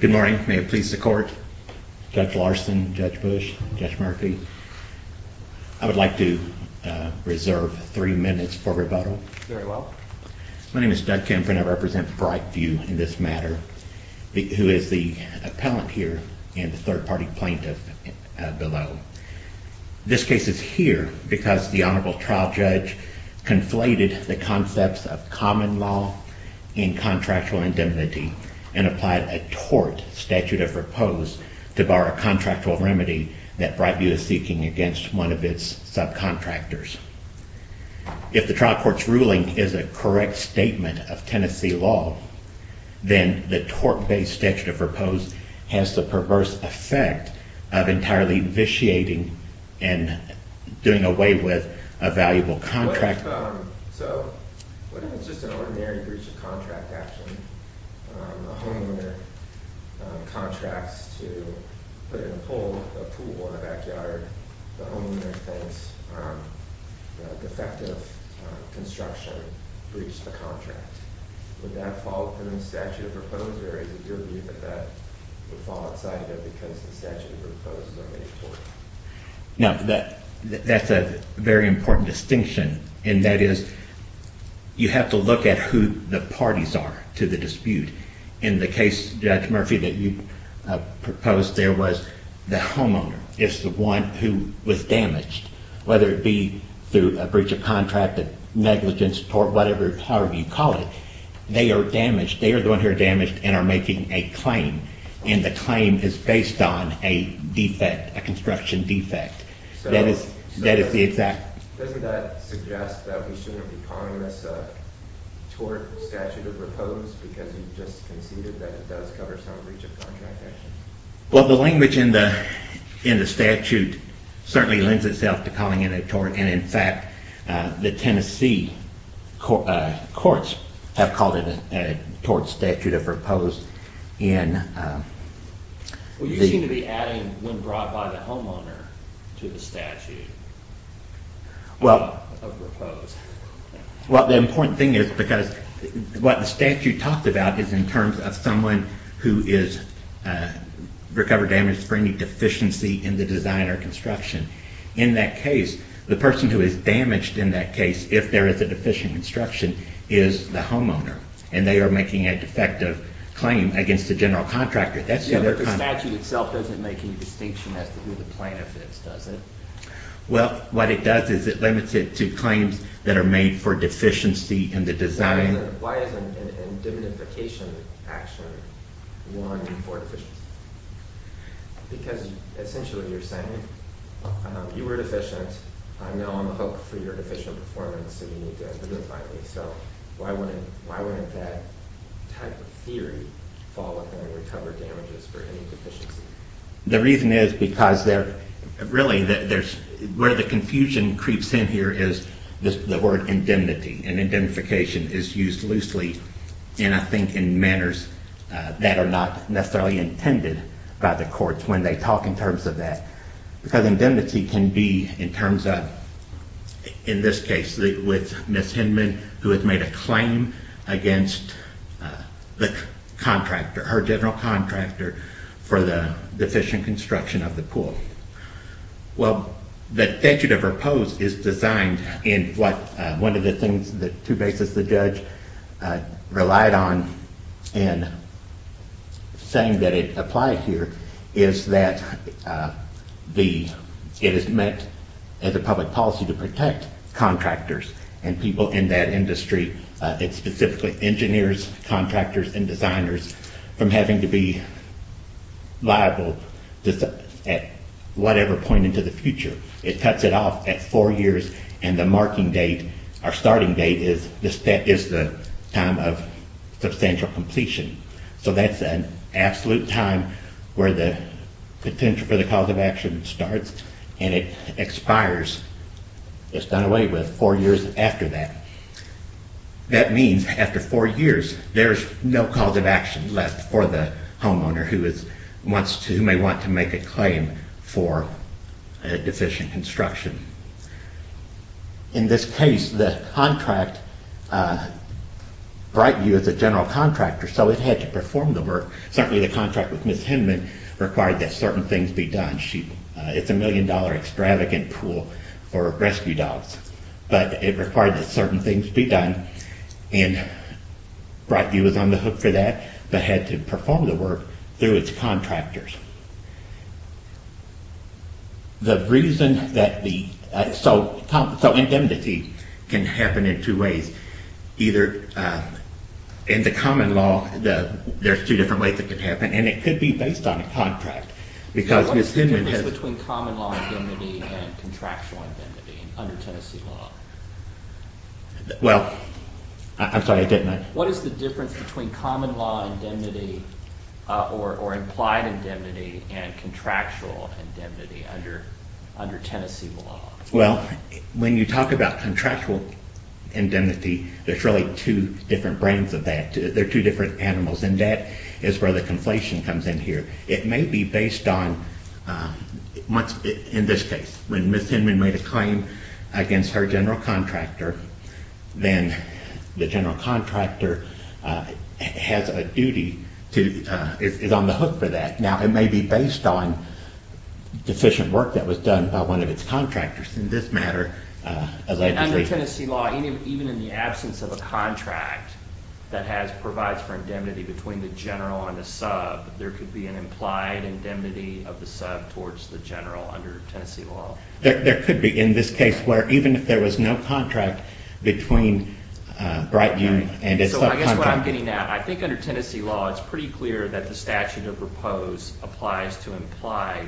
Good morning. May it please the court. Judge Larson, Judge Bush, Judge Murphy, I would like to reserve three minutes for rebuttal. Very well. My name is Doug Kemp and I represent Brightview in this matter, who is the appellant here and the third-party plaintiff below. This case is here because the Honorable Trial Judge conflated the concepts of common law in contractual indemnity and applied a tort statute of repose to bar a contractual remedy that Brightview is seeking against one of its subcontractors. If the trial court's ruling is a correct statement of Tennessee law, then the tort-based statute of repose has the perverse effect of entirely vitiating and doing away with a valuable contract. So, what if it's just an ordinary breach of contract action? The homeowner contracts to put in a pool in the backyard. The homeowner thinks the defective construction breached the contract. Would that fall within the statute of repose or is it your view that that would fall outside of it because the statute of repose is already tort? No, that's a very important distinction and that is you have to look at who the parties are to the dispute. In the case, Judge Murphy, that you proposed there was the homeowner is the one who was damaged, whether it be through a breach of contract, a negligence, tort, whatever, however you call it, they are damaged. They are the ones who are damaged and are making a claim and the claim is based on a defect, a construction defect. So, doesn't that suggest that we shouldn't be calling this a tort statute of repose because you just conceded that it does cover some breach of contract action? Well, the language in the statute certainly lends itself to calling it a tort and, in fact, the Tennessee courts have called it a tort statute of repose. Well, you seem to be adding when brought by the homeowner to the statute of repose. Well, the important thing is because what the statute talks about is in terms of someone who is recovered damage for any deficiency in the design or construction. In that case, the person who is damaged in that case, if there is a deficient construction, is the homeowner and they are making a defective claim against the general contractor. The statute itself doesn't make any distinction as to who the plaintiff is, does it? Well, what it does is it limits it to claims that are made for deficiency in the design. Why isn't a indemnification action one for deficiency? Because essentially you are saying, you were deficient, I am now on the hook for your deficient performance, so you need to identify me. So, why wouldn't that type of theory fall within recovered damages for any deficiency? The reason is because, really, where the confusion creeps in here is the word indemnity. And indemnification is used loosely and I think in manners that are not necessarily intended by the courts when they talk in terms of that. Because indemnity can be in terms of, in this case, with Ms. Hinman who has made a claim against the contractor, her general contractor, for the deficient construction of the pool. Well, the statute of repose is designed in what one of the things that two bases, the judge, relied on in saying that it applied here is that it is met as a public policy to protect contractors and people in that industry. It specifically engineers, contractors, and designers from having to be liable at whatever point into the future. It cuts it off at four years and the marking date, our starting date, is the time of substantial completion. So that's an absolute time where the contention for the cause of action starts and it expires, it's done away with, four years after that. That means after four years, there's no cause of action left for the homeowner who may want to make a claim for a deficient construction. In this case, the contract, Brightview is a general contractor, so it had to perform the work. Certainly the contract with Ms. Hinman required that certain things be done. It's a million dollar extravagant pool for rescue dogs, but it required that certain things be done and Brightview was on the hook for that, but had to perform the work through its contractors. The reason that the – so indemnity can happen in two ways. Either in the common law, there's two different ways it could happen and it could be based on a contract because Ms. Hinman has – What is the difference between common law indemnity and contractual indemnity under Tennessee law? Well, I'm sorry, I didn't – What is the difference between common law indemnity or implied indemnity and contractual indemnity under Tennessee law? Well, when you talk about contractual indemnity, there's really two different brands of that. They're two different animals and that is where the conflation comes in here. It may be based on – in this case, when Ms. Hinman made a claim against her general contractor, then the general contractor has a duty to – is on the hook for that. Now, it may be based on deficient work that was done by one of its contractors. In this matter – Under Tennessee law, even in the absence of a contract that has – provides for indemnity between the general and the sub, there could be an implied indemnity of the sub towards the general under Tennessee law. There could be in this case where even if there was no contract between Brighton and its subcontractor – So I guess what I'm getting at, I think under Tennessee law, it's pretty clear that the statute of repose applies to implied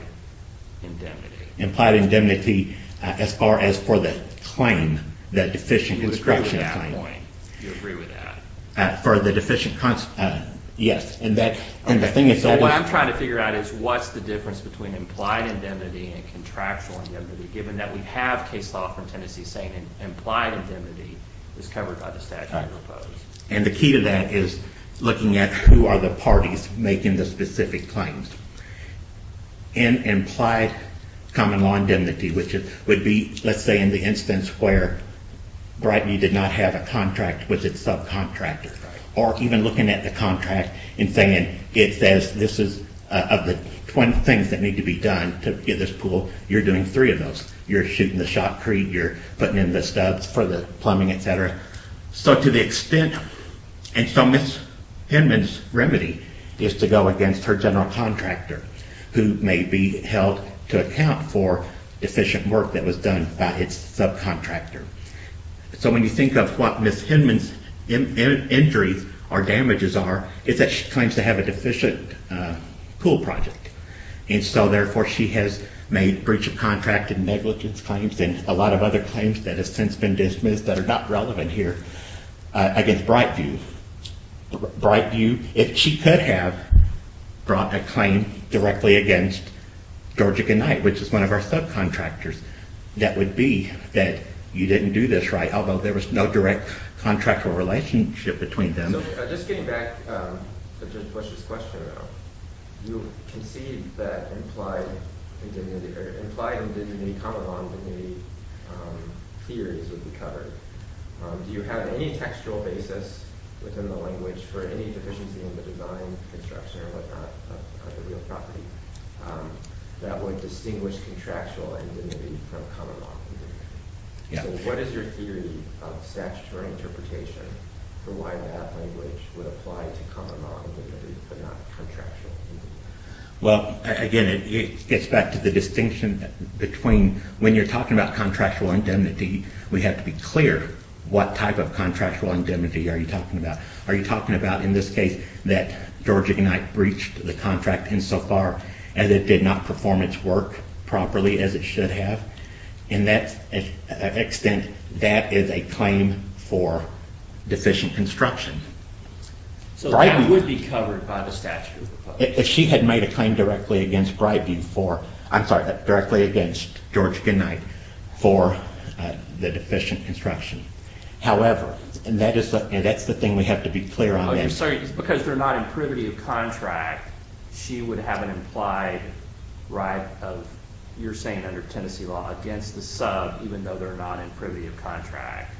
indemnity. Implied indemnity as far as for the claim, that deficient construction claim. You agree with that? For the deficient – yes. And the thing is – What I'm trying to figure out is what's the difference between implied indemnity and contractual indemnity, given that we have case law from Tennessee saying implied indemnity is covered by the statute of repose. And the key to that is looking at who are the parties making the specific claims. And implied common law indemnity, which would be, let's say, in the instance where Brighton did not have a contract with its subcontractor. Right. Or even looking at the contract and saying it says this is – of the 20 things that need to be done to get this pool, you're doing three of those. You're shooting the shotcrete. You're putting in the stubs for the plumbing, et cetera. So to the extent – and so Ms. Hinman's remedy is to go against her general contractor, who may be held to account for deficient work that was done by its subcontractor. So when you think of what Ms. Hinman's injuries or damages are, it's that she claims to have a deficient pool project. And so, therefore, she has made breach of contract and negligence claims and a lot of other claims that have since been dismissed that are not relevant here against Brightview. Brightview, if she could have, brought a claim directly against Georgia Gennite, which is one of our subcontractors. That would be that you didn't do this right, although there was no direct contractual relationship between them. So just getting back to Bush's question, though, you concede that implied indignity – implied indignity, common law indignity theories would be covered. Do you have any textual basis within the language for any deficiency in the design, construction, or whatnot of the real property that would distinguish contractual indignity from common law indignity? So what is your theory of statutory interpretation for why that language would apply to common law indignity but not contractual indignity? Well, again, it gets back to the distinction between when you're talking about contractual indignity, we have to be clear what type of contractual indignity are you talking about. Are you talking about, in this case, that Georgia Gennite breached the contract insofar as it did not perform its work properly as it should have? In that extent, that is a claim for deficient construction. So that would be covered by the statute? She had made a claim directly against Breyview for – I'm sorry, directly against Georgia Gennite for the deficient construction. However – and that's the thing we have to be clear on. Because they're not in privity of contract, she would have an implied right of, you're saying under Tennessee law, against the sub even though they're not in privity of contract.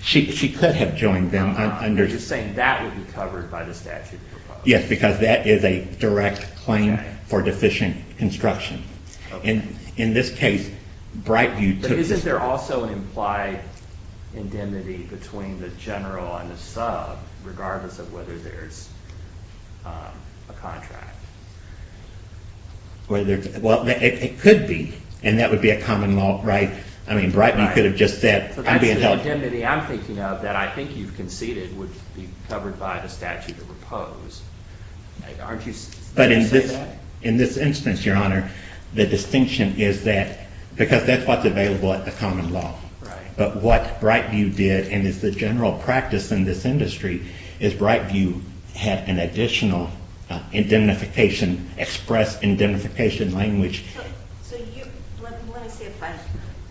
She could have joined them under – You're saying that would be covered by the statute? Yes, because that is a direct claim for deficient construction. In this case, Breyview took the – Isn't there also an implied indemnity between the general and the sub regardless of whether there's a contract? Well, it could be, and that would be a common law right. I mean, Breyview could have just said – So that's the indemnity I'm thinking of that I think you've conceded would be covered by the statute of repose. Aren't you – But in this instance, Your Honor, the distinction is that – because that's what's available at the common law. But what Breyview did, and it's the general practice in this industry, is Breyview had an additional indemnification, express indemnification language. So you – let me see if I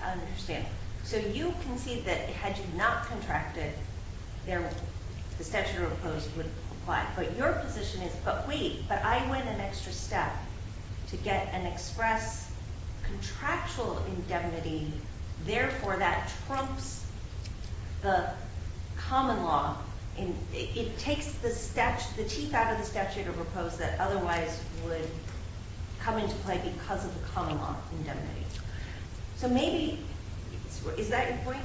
understand. So you concede that had you not contracted, the statute of repose would apply. But your position is, but wait, but I went an extra step to get an express contractual indemnity. Therefore, that trumps the common law. It takes the teeth out of the statute of repose that otherwise would come into play because of the common law indemnity. So maybe – is that your point?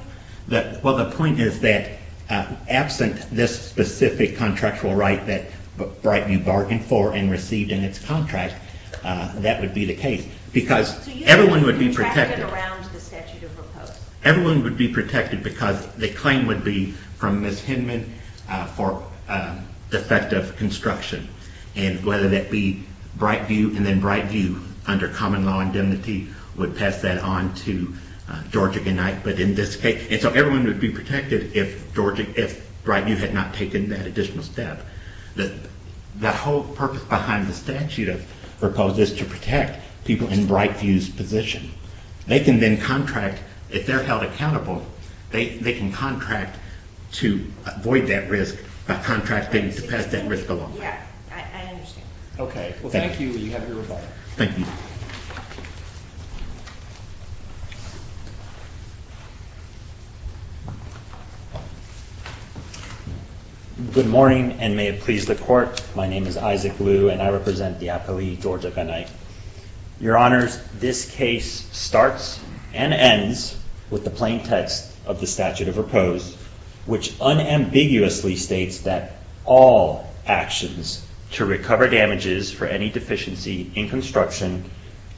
Well, the point is that absent this specific contractual right that Breyview bargained for and received in its contract, that would be the case. Because everyone would be protected. So you would have contracted around the statute of repose? Everyone would be protected because the claim would be from Ms. Hinman for defective construction. And whether that be Breyview and then Breyview under common law indemnity would pass that on to Georgia Gennite. But in this case – and so everyone would be protected if Breyview had not taken that additional step. The whole purpose behind the statute of repose is to protect people in Breyview's position. They can then contract – if they're held accountable, they can contract to avoid that risk by contracting to pass that risk along. Yeah, I understand. Okay. Well, thank you. You have your rebuttal. Thank you. Good morning and may it please the Court. My name is Isaac Liu and I represent the appellee, Georgia Gennite. Your Honors, this case starts and ends with the plain text of the statute of repose, which unambiguously states that all actions to recover damages for any deficiency in construction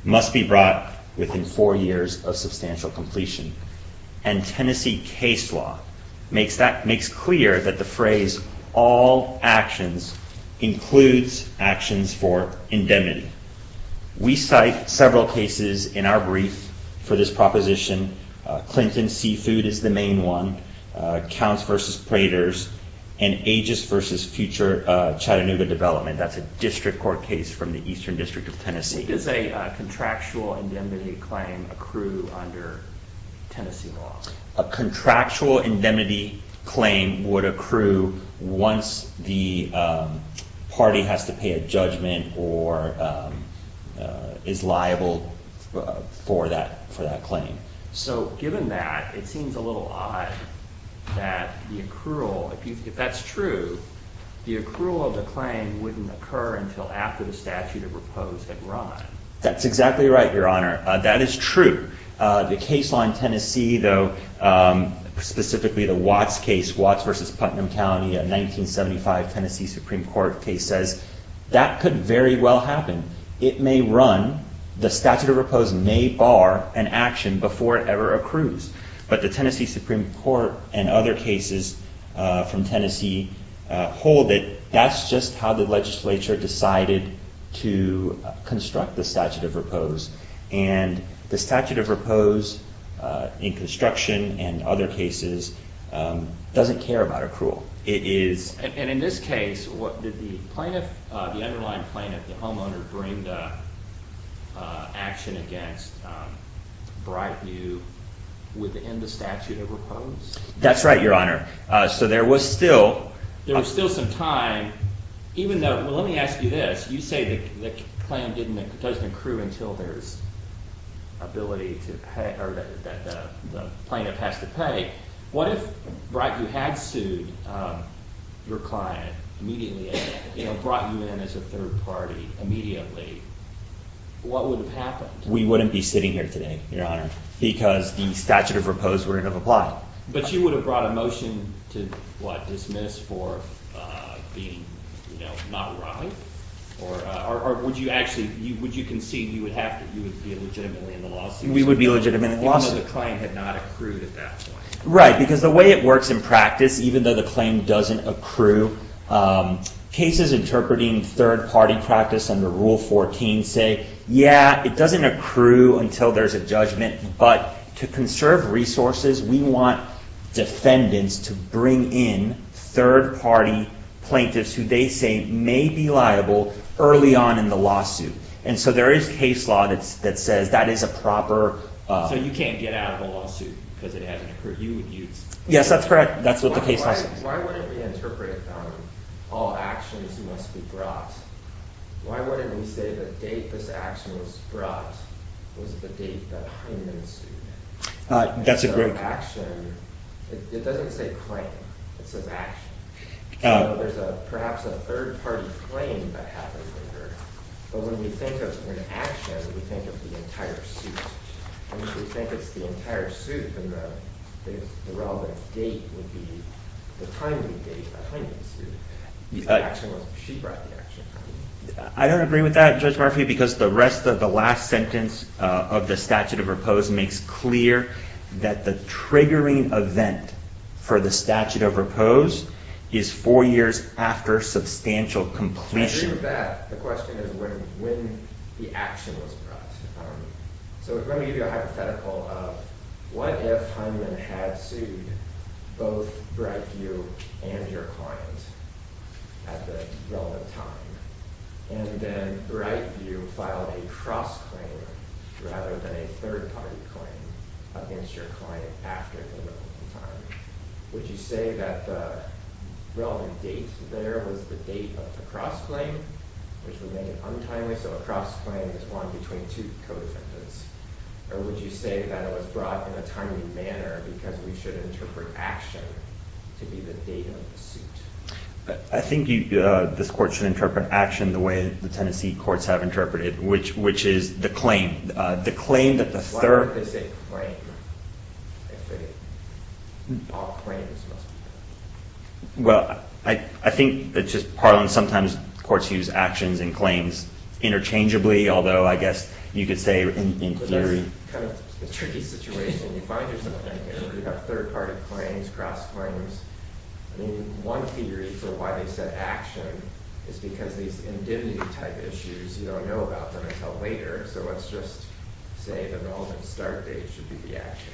must be brought within four years of substantial completion. And Tennessee case law makes clear that the phrase all actions includes actions for indemnity. We cite several cases in our brief for this proposition. Clinton Seafood is the main one. Counts v. Praters. And Aegis v. Future Chattanooga Development. That's a district court case from the Eastern District of Tennessee. Does a contractual indemnity claim accrue under Tennessee law? A contractual indemnity claim would accrue once the party has to pay a judgment or is liable for that claim. So given that, it seems a little odd that the accrual – if that's true, the accrual of the claim wouldn't occur until after the statute of repose had run. That's exactly right, Your Honor. That is true. The case law in Tennessee, though, specifically the Watts case, Watts v. Putnam County, a 1975 Tennessee Supreme Court case, says that could very well happen. It may run. The statute of repose may bar an action before it ever accrues. But the Tennessee Supreme Court and other cases from Tennessee hold that that's just how the legislature decided to construct the statute of repose. And the statute of repose in construction and other cases doesn't care about accrual. And in this case, did the plaintiff, the underlying plaintiff, the homeowner, bring the action against Brightview within the statute of repose? That's right, Your Honor. So there was still – There was still some time, even though – well, let me ask you this. You say the claim doesn't accrue until there's ability to – or the plaintiff has to pay. What if Brightview had sued your client immediately and brought you in as a third party immediately? What would have happened? We wouldn't be sitting here today, Your Honor, because the statute of repose would have applied. But you would have brought a motion to, what, dismiss for being not right? Or would you actually – would you concede you would have to – you would be legitimately in the lawsuit? We would be legitimately in the lawsuit. Even though the claim had not accrued at that point. Right. Because the way it works in practice, even though the claim doesn't accrue, cases interpreting third-party practice under Rule 14 say, yeah, it doesn't accrue until there's a judgment. But to conserve resources, we want defendants to bring in third-party plaintiffs who they say may be liable early on in the lawsuit. And so there is case law that says that is a proper – So you can't get out of the lawsuit because it hasn't accrued. You would use – Yes, that's correct. That's what the case law says. Why wouldn't we interpret all actions must be brought? Why wouldn't we say the date this action was brought was the date that Hyman sued him? That's a great question. So action – it doesn't say claim. It says action. There's perhaps a third-party claim that happened later. But when we think of an action, we think of the entire suit. And if we think it's the entire suit, then the relevant date would be the timing date that Hyman sued. The action was – she brought the action. I don't agree with that, Judge Murphy, because the rest of the last sentence of the statute of repose makes clear that the triggering event for the statute of repose is four years after substantial completion. I agree with that. The question is when the action was brought. So let me give you a hypothetical of what if Hyman had sued both Brightview and your client at the relevant time, and then Brightview filed a cross-claim rather than a third-party claim against your client after the relevant time. Would you say that the relevant date there was the date of the cross-claim, which would make it untimely? So a cross-claim is one between two co-defendants. Or would you say that it was brought in a timely manner because we should interpret action to be the date of the suit? I think this court should interpret action the way the Tennessee courts have interpreted it, which is the claim. Why would they say claim if all claims must be done? Well, I think it's just partly sometimes courts use actions and claims interchangeably, although I guess you could say in theory. It's kind of a tricky situation. You find yourself in a case where you have third-party claims, cross-claims. I mean, one theory for why they said action is because these indemnity-type issues, you don't know about them until later. So let's just say the relevant start date should be the action.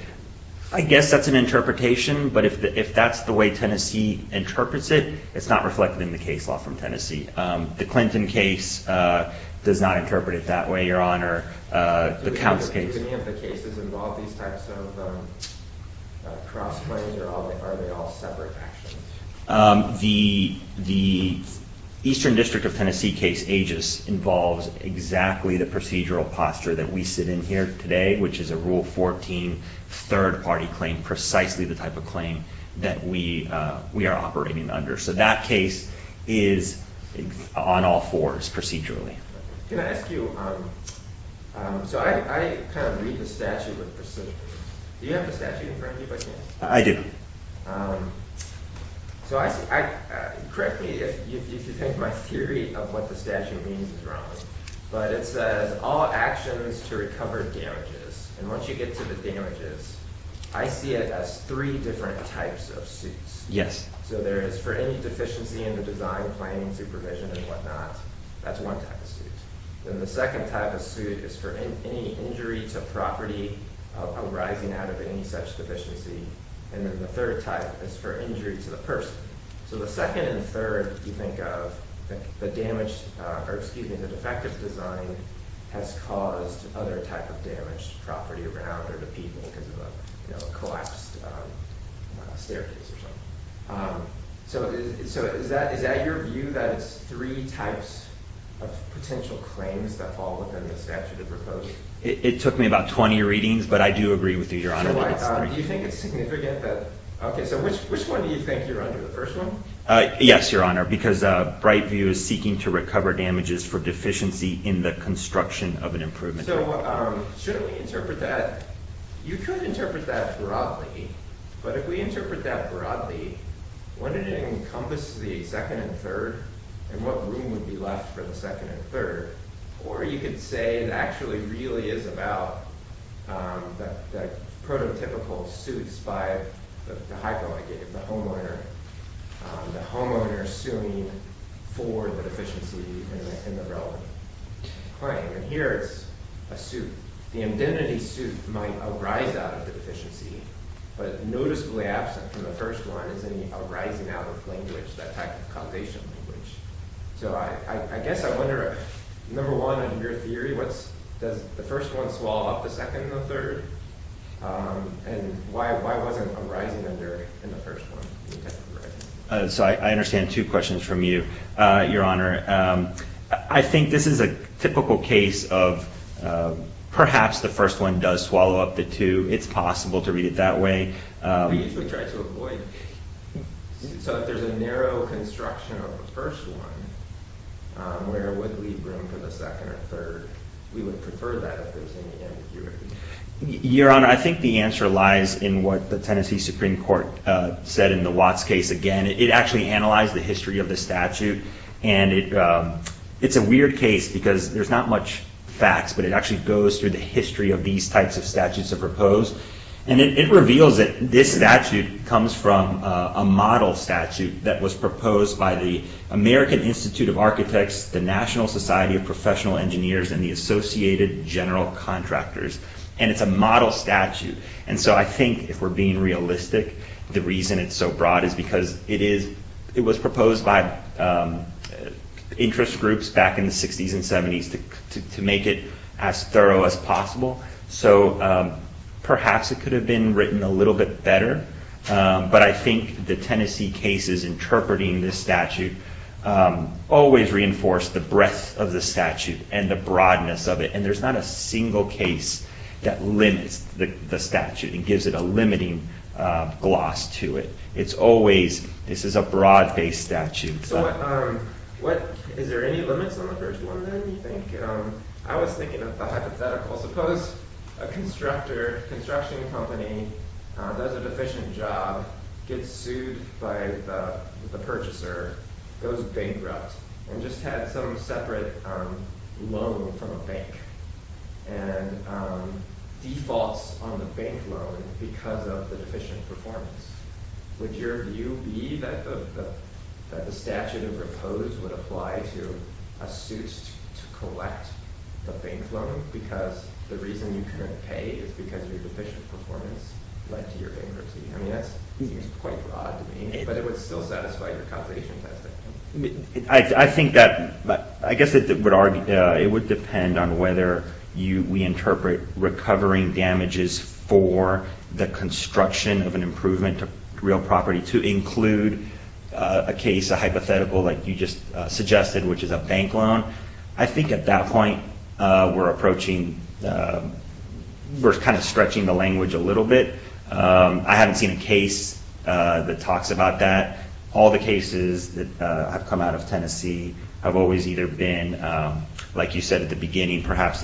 I guess that's an interpretation, but if that's the way Tennessee interprets it, it's not reflected in the case law from Tennessee. The Clinton case does not interpret it that way, Your Honor. Do any of the cases involve these types of cross-claims, or are they all separate actions? The Eastern District of Tennessee case, Aegis, involves exactly the procedural posture that we sit in here today, which is a Rule 14 third-party claim, precisely the type of claim that we are operating under. So that case is on all fours procedurally. Can I ask you, so I kind of read the statute with precision. Do you have the statute in front of you by chance? I do. So correct me if you think my theory of what the statute means is wrong, but it says all actions to recover damages. And once you get to the damages, I see it as three different types of suits. Yes. So there is, for any deficiency in the design, planning, supervision, and whatnot, that's one type of suit. Then the second type of suit is for any injury to property arising out of any such deficiency. And then the third type is for injury to the person. So the second and third you think of, the defective design has caused other type of damage to property around or to people because of a collapsed staircase or something. So is that your view, that it's three types of potential claims that fall within the statute of proposed? It took me about 20 readings, but I do agree with you, Your Honor, that it's three. So which one do you think you're under, the first one? Yes, Your Honor, because Brightview is seeking to recover damages for deficiency in the construction of an improvement. So shouldn't we interpret that? You could interpret that broadly, but if we interpret that broadly, wouldn't it encompass the second and third? And what room would be left for the second and third? Or you could say it actually really is about the prototypical suits by the homeowner, the homeowner suing for the deficiency in the relevant claim. And here it's a suit. The indemnity suit might arise out of the deficiency, but noticeably absent from the first one is any arising out of language, that type of causation language. So I guess I wonder, number one, in your theory, does the first one swallow up the second and the third? And why wasn't a rising under in the first one? So I understand two questions from you, Your Honor. I think this is a typical case of perhaps the first one does swallow up the two. It's possible to read it that way. We usually try to avoid it. So if there's a narrow construction of the first one, where would leave room for the second and third? We would prefer that if there's any ambiguity. Your Honor, I think the answer lies in what the Tennessee Supreme Court said in the Watts case. Again, it actually analyzed the history of the statute. And it's a weird case because there's not much facts, but it actually goes through the history of these types of statutes that are proposed. And it reveals that this statute comes from a model statute that was proposed by the American Institute of Architects, the National Society of Professional Engineers, and the Associated General Contractors. And it's a model statute. And so I think if we're being realistic, the reason it's so broad is because it was proposed by interest groups back in the 60s and 70s to make it as thorough as possible. So perhaps it could have been written a little bit better. But I think the Tennessee cases interpreting this statute always reinforce the breadth of the statute and the broadness of it. And there's not a single case that limits the statute and gives it a limiting gloss to it. It's always this is a broad-based statute. So is there any limits on the first one, then, you think? I was thinking of the hypothetical. Suppose a construction company does a deficient job, gets sued by the purchaser, goes bankrupt, and just had some separate loan from a bank and defaults on the bank loan because of the deficient performance. Would your view be that the statute proposed would apply to a suit to collect the bank loan because the reason you couldn't pay is because your deficient performance led to your bankruptcy? I mean, that seems quite broad to me. But it would still satisfy your causation testing. I think that, I guess it would depend on whether we interpret recovering damages for the construction of an improvement to real property to include a case, a hypothetical, like you just suggested, which is a bank loan. I think at that point we're approaching, we're kind of stretching the language a little bit. I haven't seen a case that talks about that. All the cases that have come out of Tennessee have always either been, like you said at the beginning, perhaps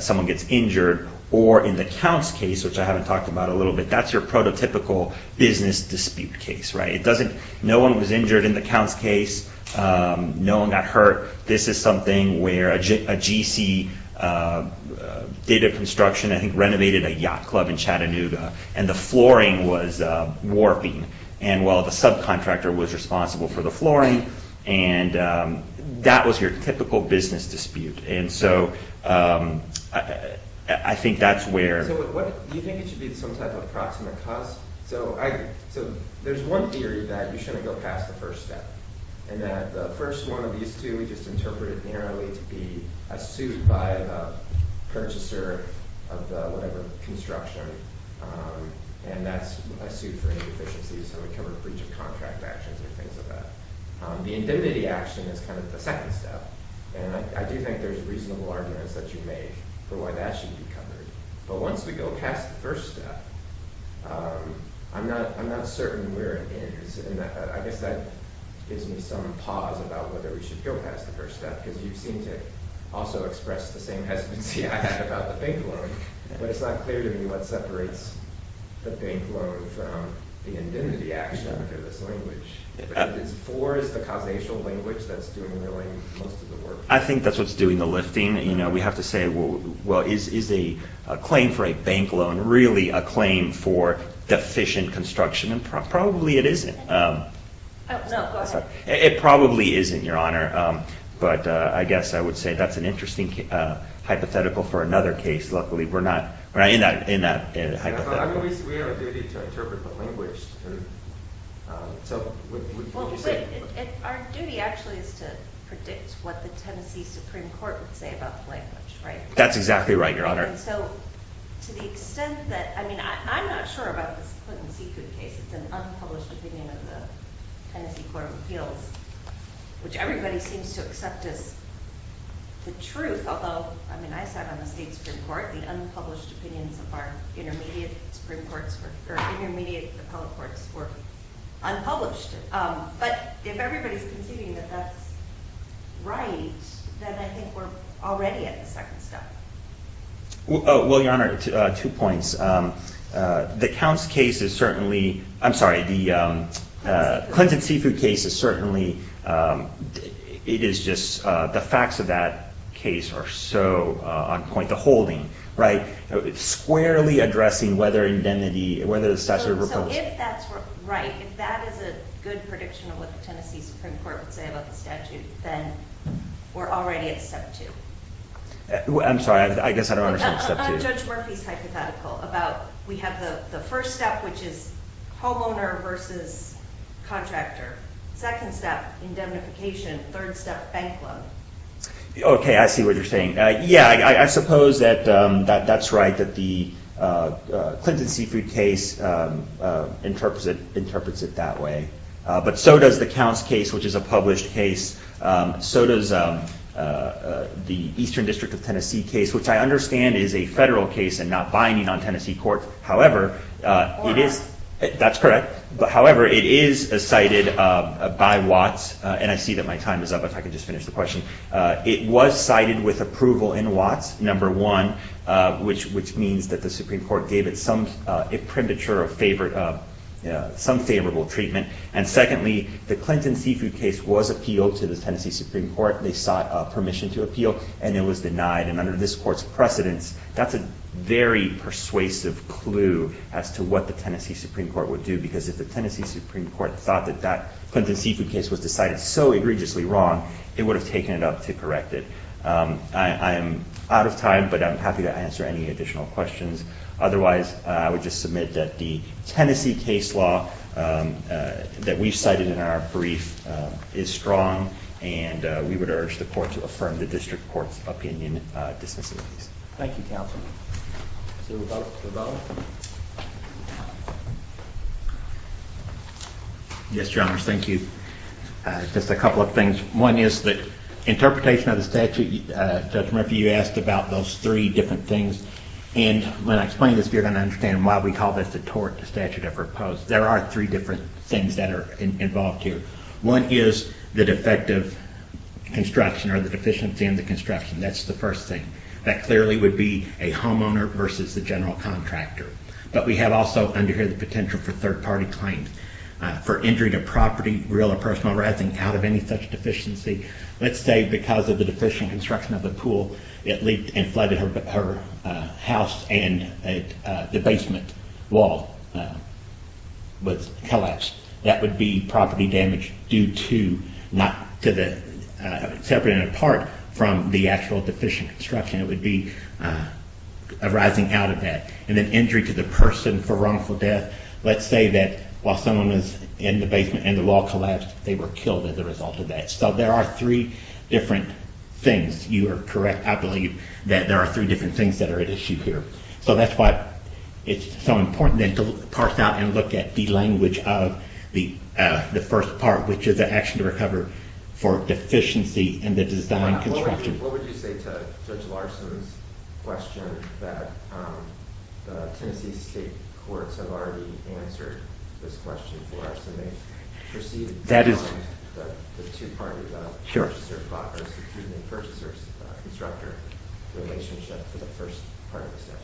someone gets injured, or in the Counts case, which I haven't talked about a little bit, that's your prototypical business dispute case, right? No one was injured in the Counts case. No one got hurt. This is something where a GC did a construction, I think renovated a yacht club in Chattanooga, and the flooring was warping. And, well, the subcontractor was responsible for the flooring, and that was your typical business dispute. And so I think that's where... Do you think it should be some type of proximate cause? So there's one theory that you shouldn't go past the first step, and that the first one of these two we just interpreted narrowly would be a suit by the purchaser of the whatever construction, and that's a suit for inefficiencies, so we cover breach of contract actions and things like that. The indemnity action is kind of the second step, and I do think there's reasonable arguments that you make for why that should be covered. But once we go past the first step, I'm not certain where it ends, and I guess that gives me some pause about whether we should go past the first step, because you seem to also express the same hesitancy I had about the bank loan, but it's not clear to me what separates the bank loan from the indemnity action under this language. Is for the causational language that's doing most of the work? I think that's what's doing the lifting. We have to say, well, is a claim for a bank loan really a claim for deficient construction? And probably it isn't. Oh, no, go ahead. It probably isn't, Your Honor, but I guess I would say that's an interesting hypothetical for another case. Luckily, we're not in that hypothetical. We have a duty to interpret the language. Our duty actually is to predict what the Tennessee Supreme Court would say about the language, right? That's exactly right, Your Honor. So to the extent that, I mean, I'm not sure about this Clinton-Secud case. It's an unpublished opinion of the Tennessee Court of Appeals, which everybody seems to accept as the truth, although, I mean, I sat on the state Supreme Court. The unpublished opinions of our intermediate Supreme Courts or intermediate appellate courts were unpublished. But if everybody's conceding that that's right, then I think we're already at the second step. Well, Your Honor, two points. The Counts case is certainly... I'm sorry, the Clinton-Seafood case is certainly... It is just... The facts of that case are so on point. The holding, right? Squarely addressing whether the statute of repellency... So if that's right, if that is a good prediction of what the Tennessee Supreme Court would say about the statute, then we're already at step two. I'm sorry, I guess I don't understand step two. What about Judge Murphy's hypothetical about... We have the first step, which is homeowner versus contractor. Second step, indemnification. Third step, bank loan. Okay, I see what you're saying. Yeah, I suppose that that's right, that the Clinton-Seafood case interprets it that way. But so does the Counts case, which is a published case. So does the Eastern District of Tennessee case, which I understand is a federal case and not binding on Tennessee courts. However, it is... That's correct. However, it is cited by Watts. And I see that my time is up. If I could just finish the question. It was cited with approval in Watts, number one, which means that the Supreme Court gave it some premature favor... some favorable treatment. And secondly, the Clinton-Seafood case was appealed to the Tennessee Supreme Court. They sought permission to appeal, and it was denied. And under this court's precedence, that's a very persuasive clue as to what the Tennessee Supreme Court would do. Because if the Tennessee Supreme Court thought that that Clinton-Seafood case was decided so egregiously wrong, it would have taken it up to correct it. I am out of time, but I'm happy to answer any additional questions. Otherwise, I would just submit that the Tennessee case law that we've cited in our brief is strong, and we would urge the court to affirm the district court's opinion dismissively. Thank you, counsel. Is there a vote? Yes, Your Honor. Thank you. Just a couple of things. One is the interpretation of the statute. Judge Murphy, you asked about those three different things. And when I explain this, you're going to understand why we call this the tort statute I propose. There are three different things that are involved here. One is the defective construction or the deficiency in the construction. That's the first thing. That clearly would be a homeowner versus the general contractor. But we have also under here the potential for third-party claims for injuring a property, real or personal, rather than out of any such deficiency. Let's say because of the deficient construction of the pool, it leaked and flooded her house and the basement wall was collapsed. That would be property damage separate and apart from the actual deficient construction. It would be arising out of that. And then injury to the person for wrongful death. Let's say that while someone was in the basement and the wall collapsed, they were killed as a result of that. So there are three different things. You are correct, I believe, that there are three different things that are at issue here. So that's why it's so important to parse out and look at the language of the first part, which is the action to recover for deficiency in the design construction. What would you say to Judge Larson's question that the Tennessee State Courts have already answered this question for us and they've proceeded to find the two-party purchaser-property and purchaser-constructor relationship for the first part of the statute?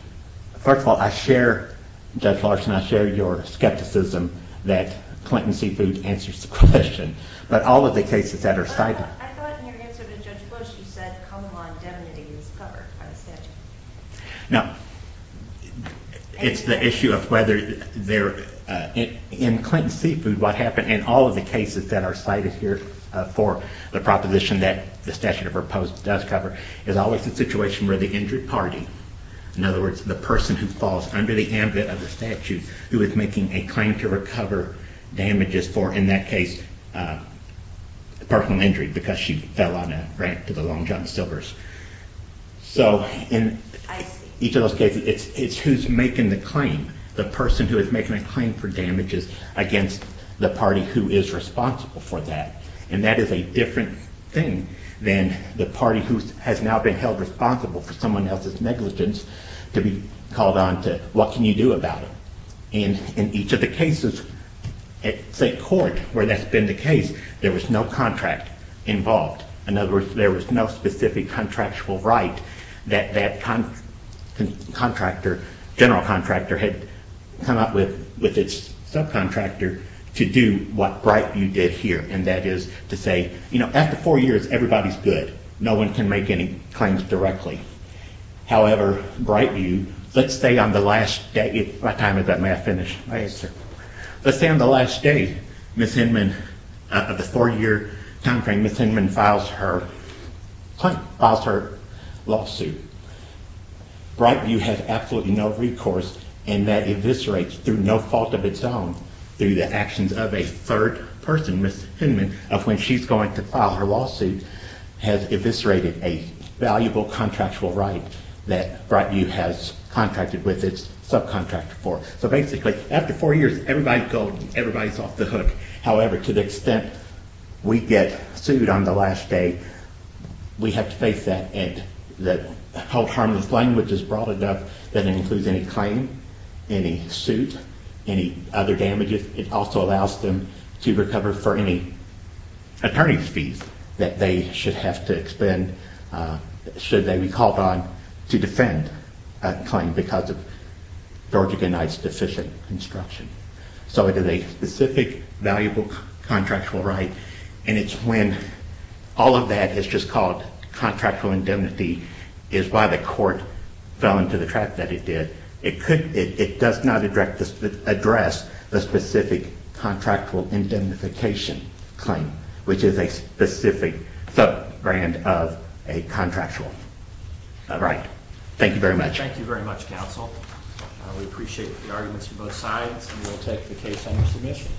First of all, Judge Larson, I share your skepticism that Clinton Seafood answers the question, but all of the cases that are cited... I thought in your answer to Judge Bush, you said common law indemnity is covered by the statute. Now, it's the issue of whether there... In Clinton Seafood, what happened in all of the cases that are cited here for the proposition that the statute of her post does cover is always the situation where the injured party, in other words, the person who falls under the ambit of the statute who is making a claim to recover damages for, in that case, personal injury because she fell on a ramp to the Long John Silvers. So, in each of those cases, it's who's making the claim. The person who is making a claim for damages against the party who is responsible for that. And that is a different thing than the party who has now been held responsible for someone else's negligence to be called on to what can you do about it. In each of the cases at state court where that's been the case, there was no contract involved. In other words, there was no specific contractual right that that general contractor had come up with its subcontractor to do what Brightview did here, and that is to say, you know, after four years, everybody's good. No one can make any claims directly. However, Brightview, let's say on the last day, let's say on the last day, Ms. Hinman, the four-year time frame, Ms. Hinman files her lawsuit. Brightview has absolutely no recourse, and that eviscerates through no fault of its own through the actions of a third person, Ms. Hinman, of when she's going to file her lawsuit has eviscerated a valuable contractual right that Brightview has contracted with its subcontractor for. So basically, after four years, everybody's gone, everybody's off the hook. However, to the extent we get sued on the last day, we have to face that and that harmless language is broad enough that it includes any claim, any suit, any other damages. It also allows them to recover for any attorney's fees that they should have to expend should they be called on to defend a claim because of Georgia Gennett's deficient construction. So it is a specific valuable contractual right, and it's when all of that is just called contractual indemnity is why the court fell into the trap that it did. It does not address the specific contractual indemnification claim, which is a specific subgrant of a contractual right. Thank you very much. MR. MILLER Thank you very much, counsel. We appreciate the arguments from both sides, and we'll take the case under submission.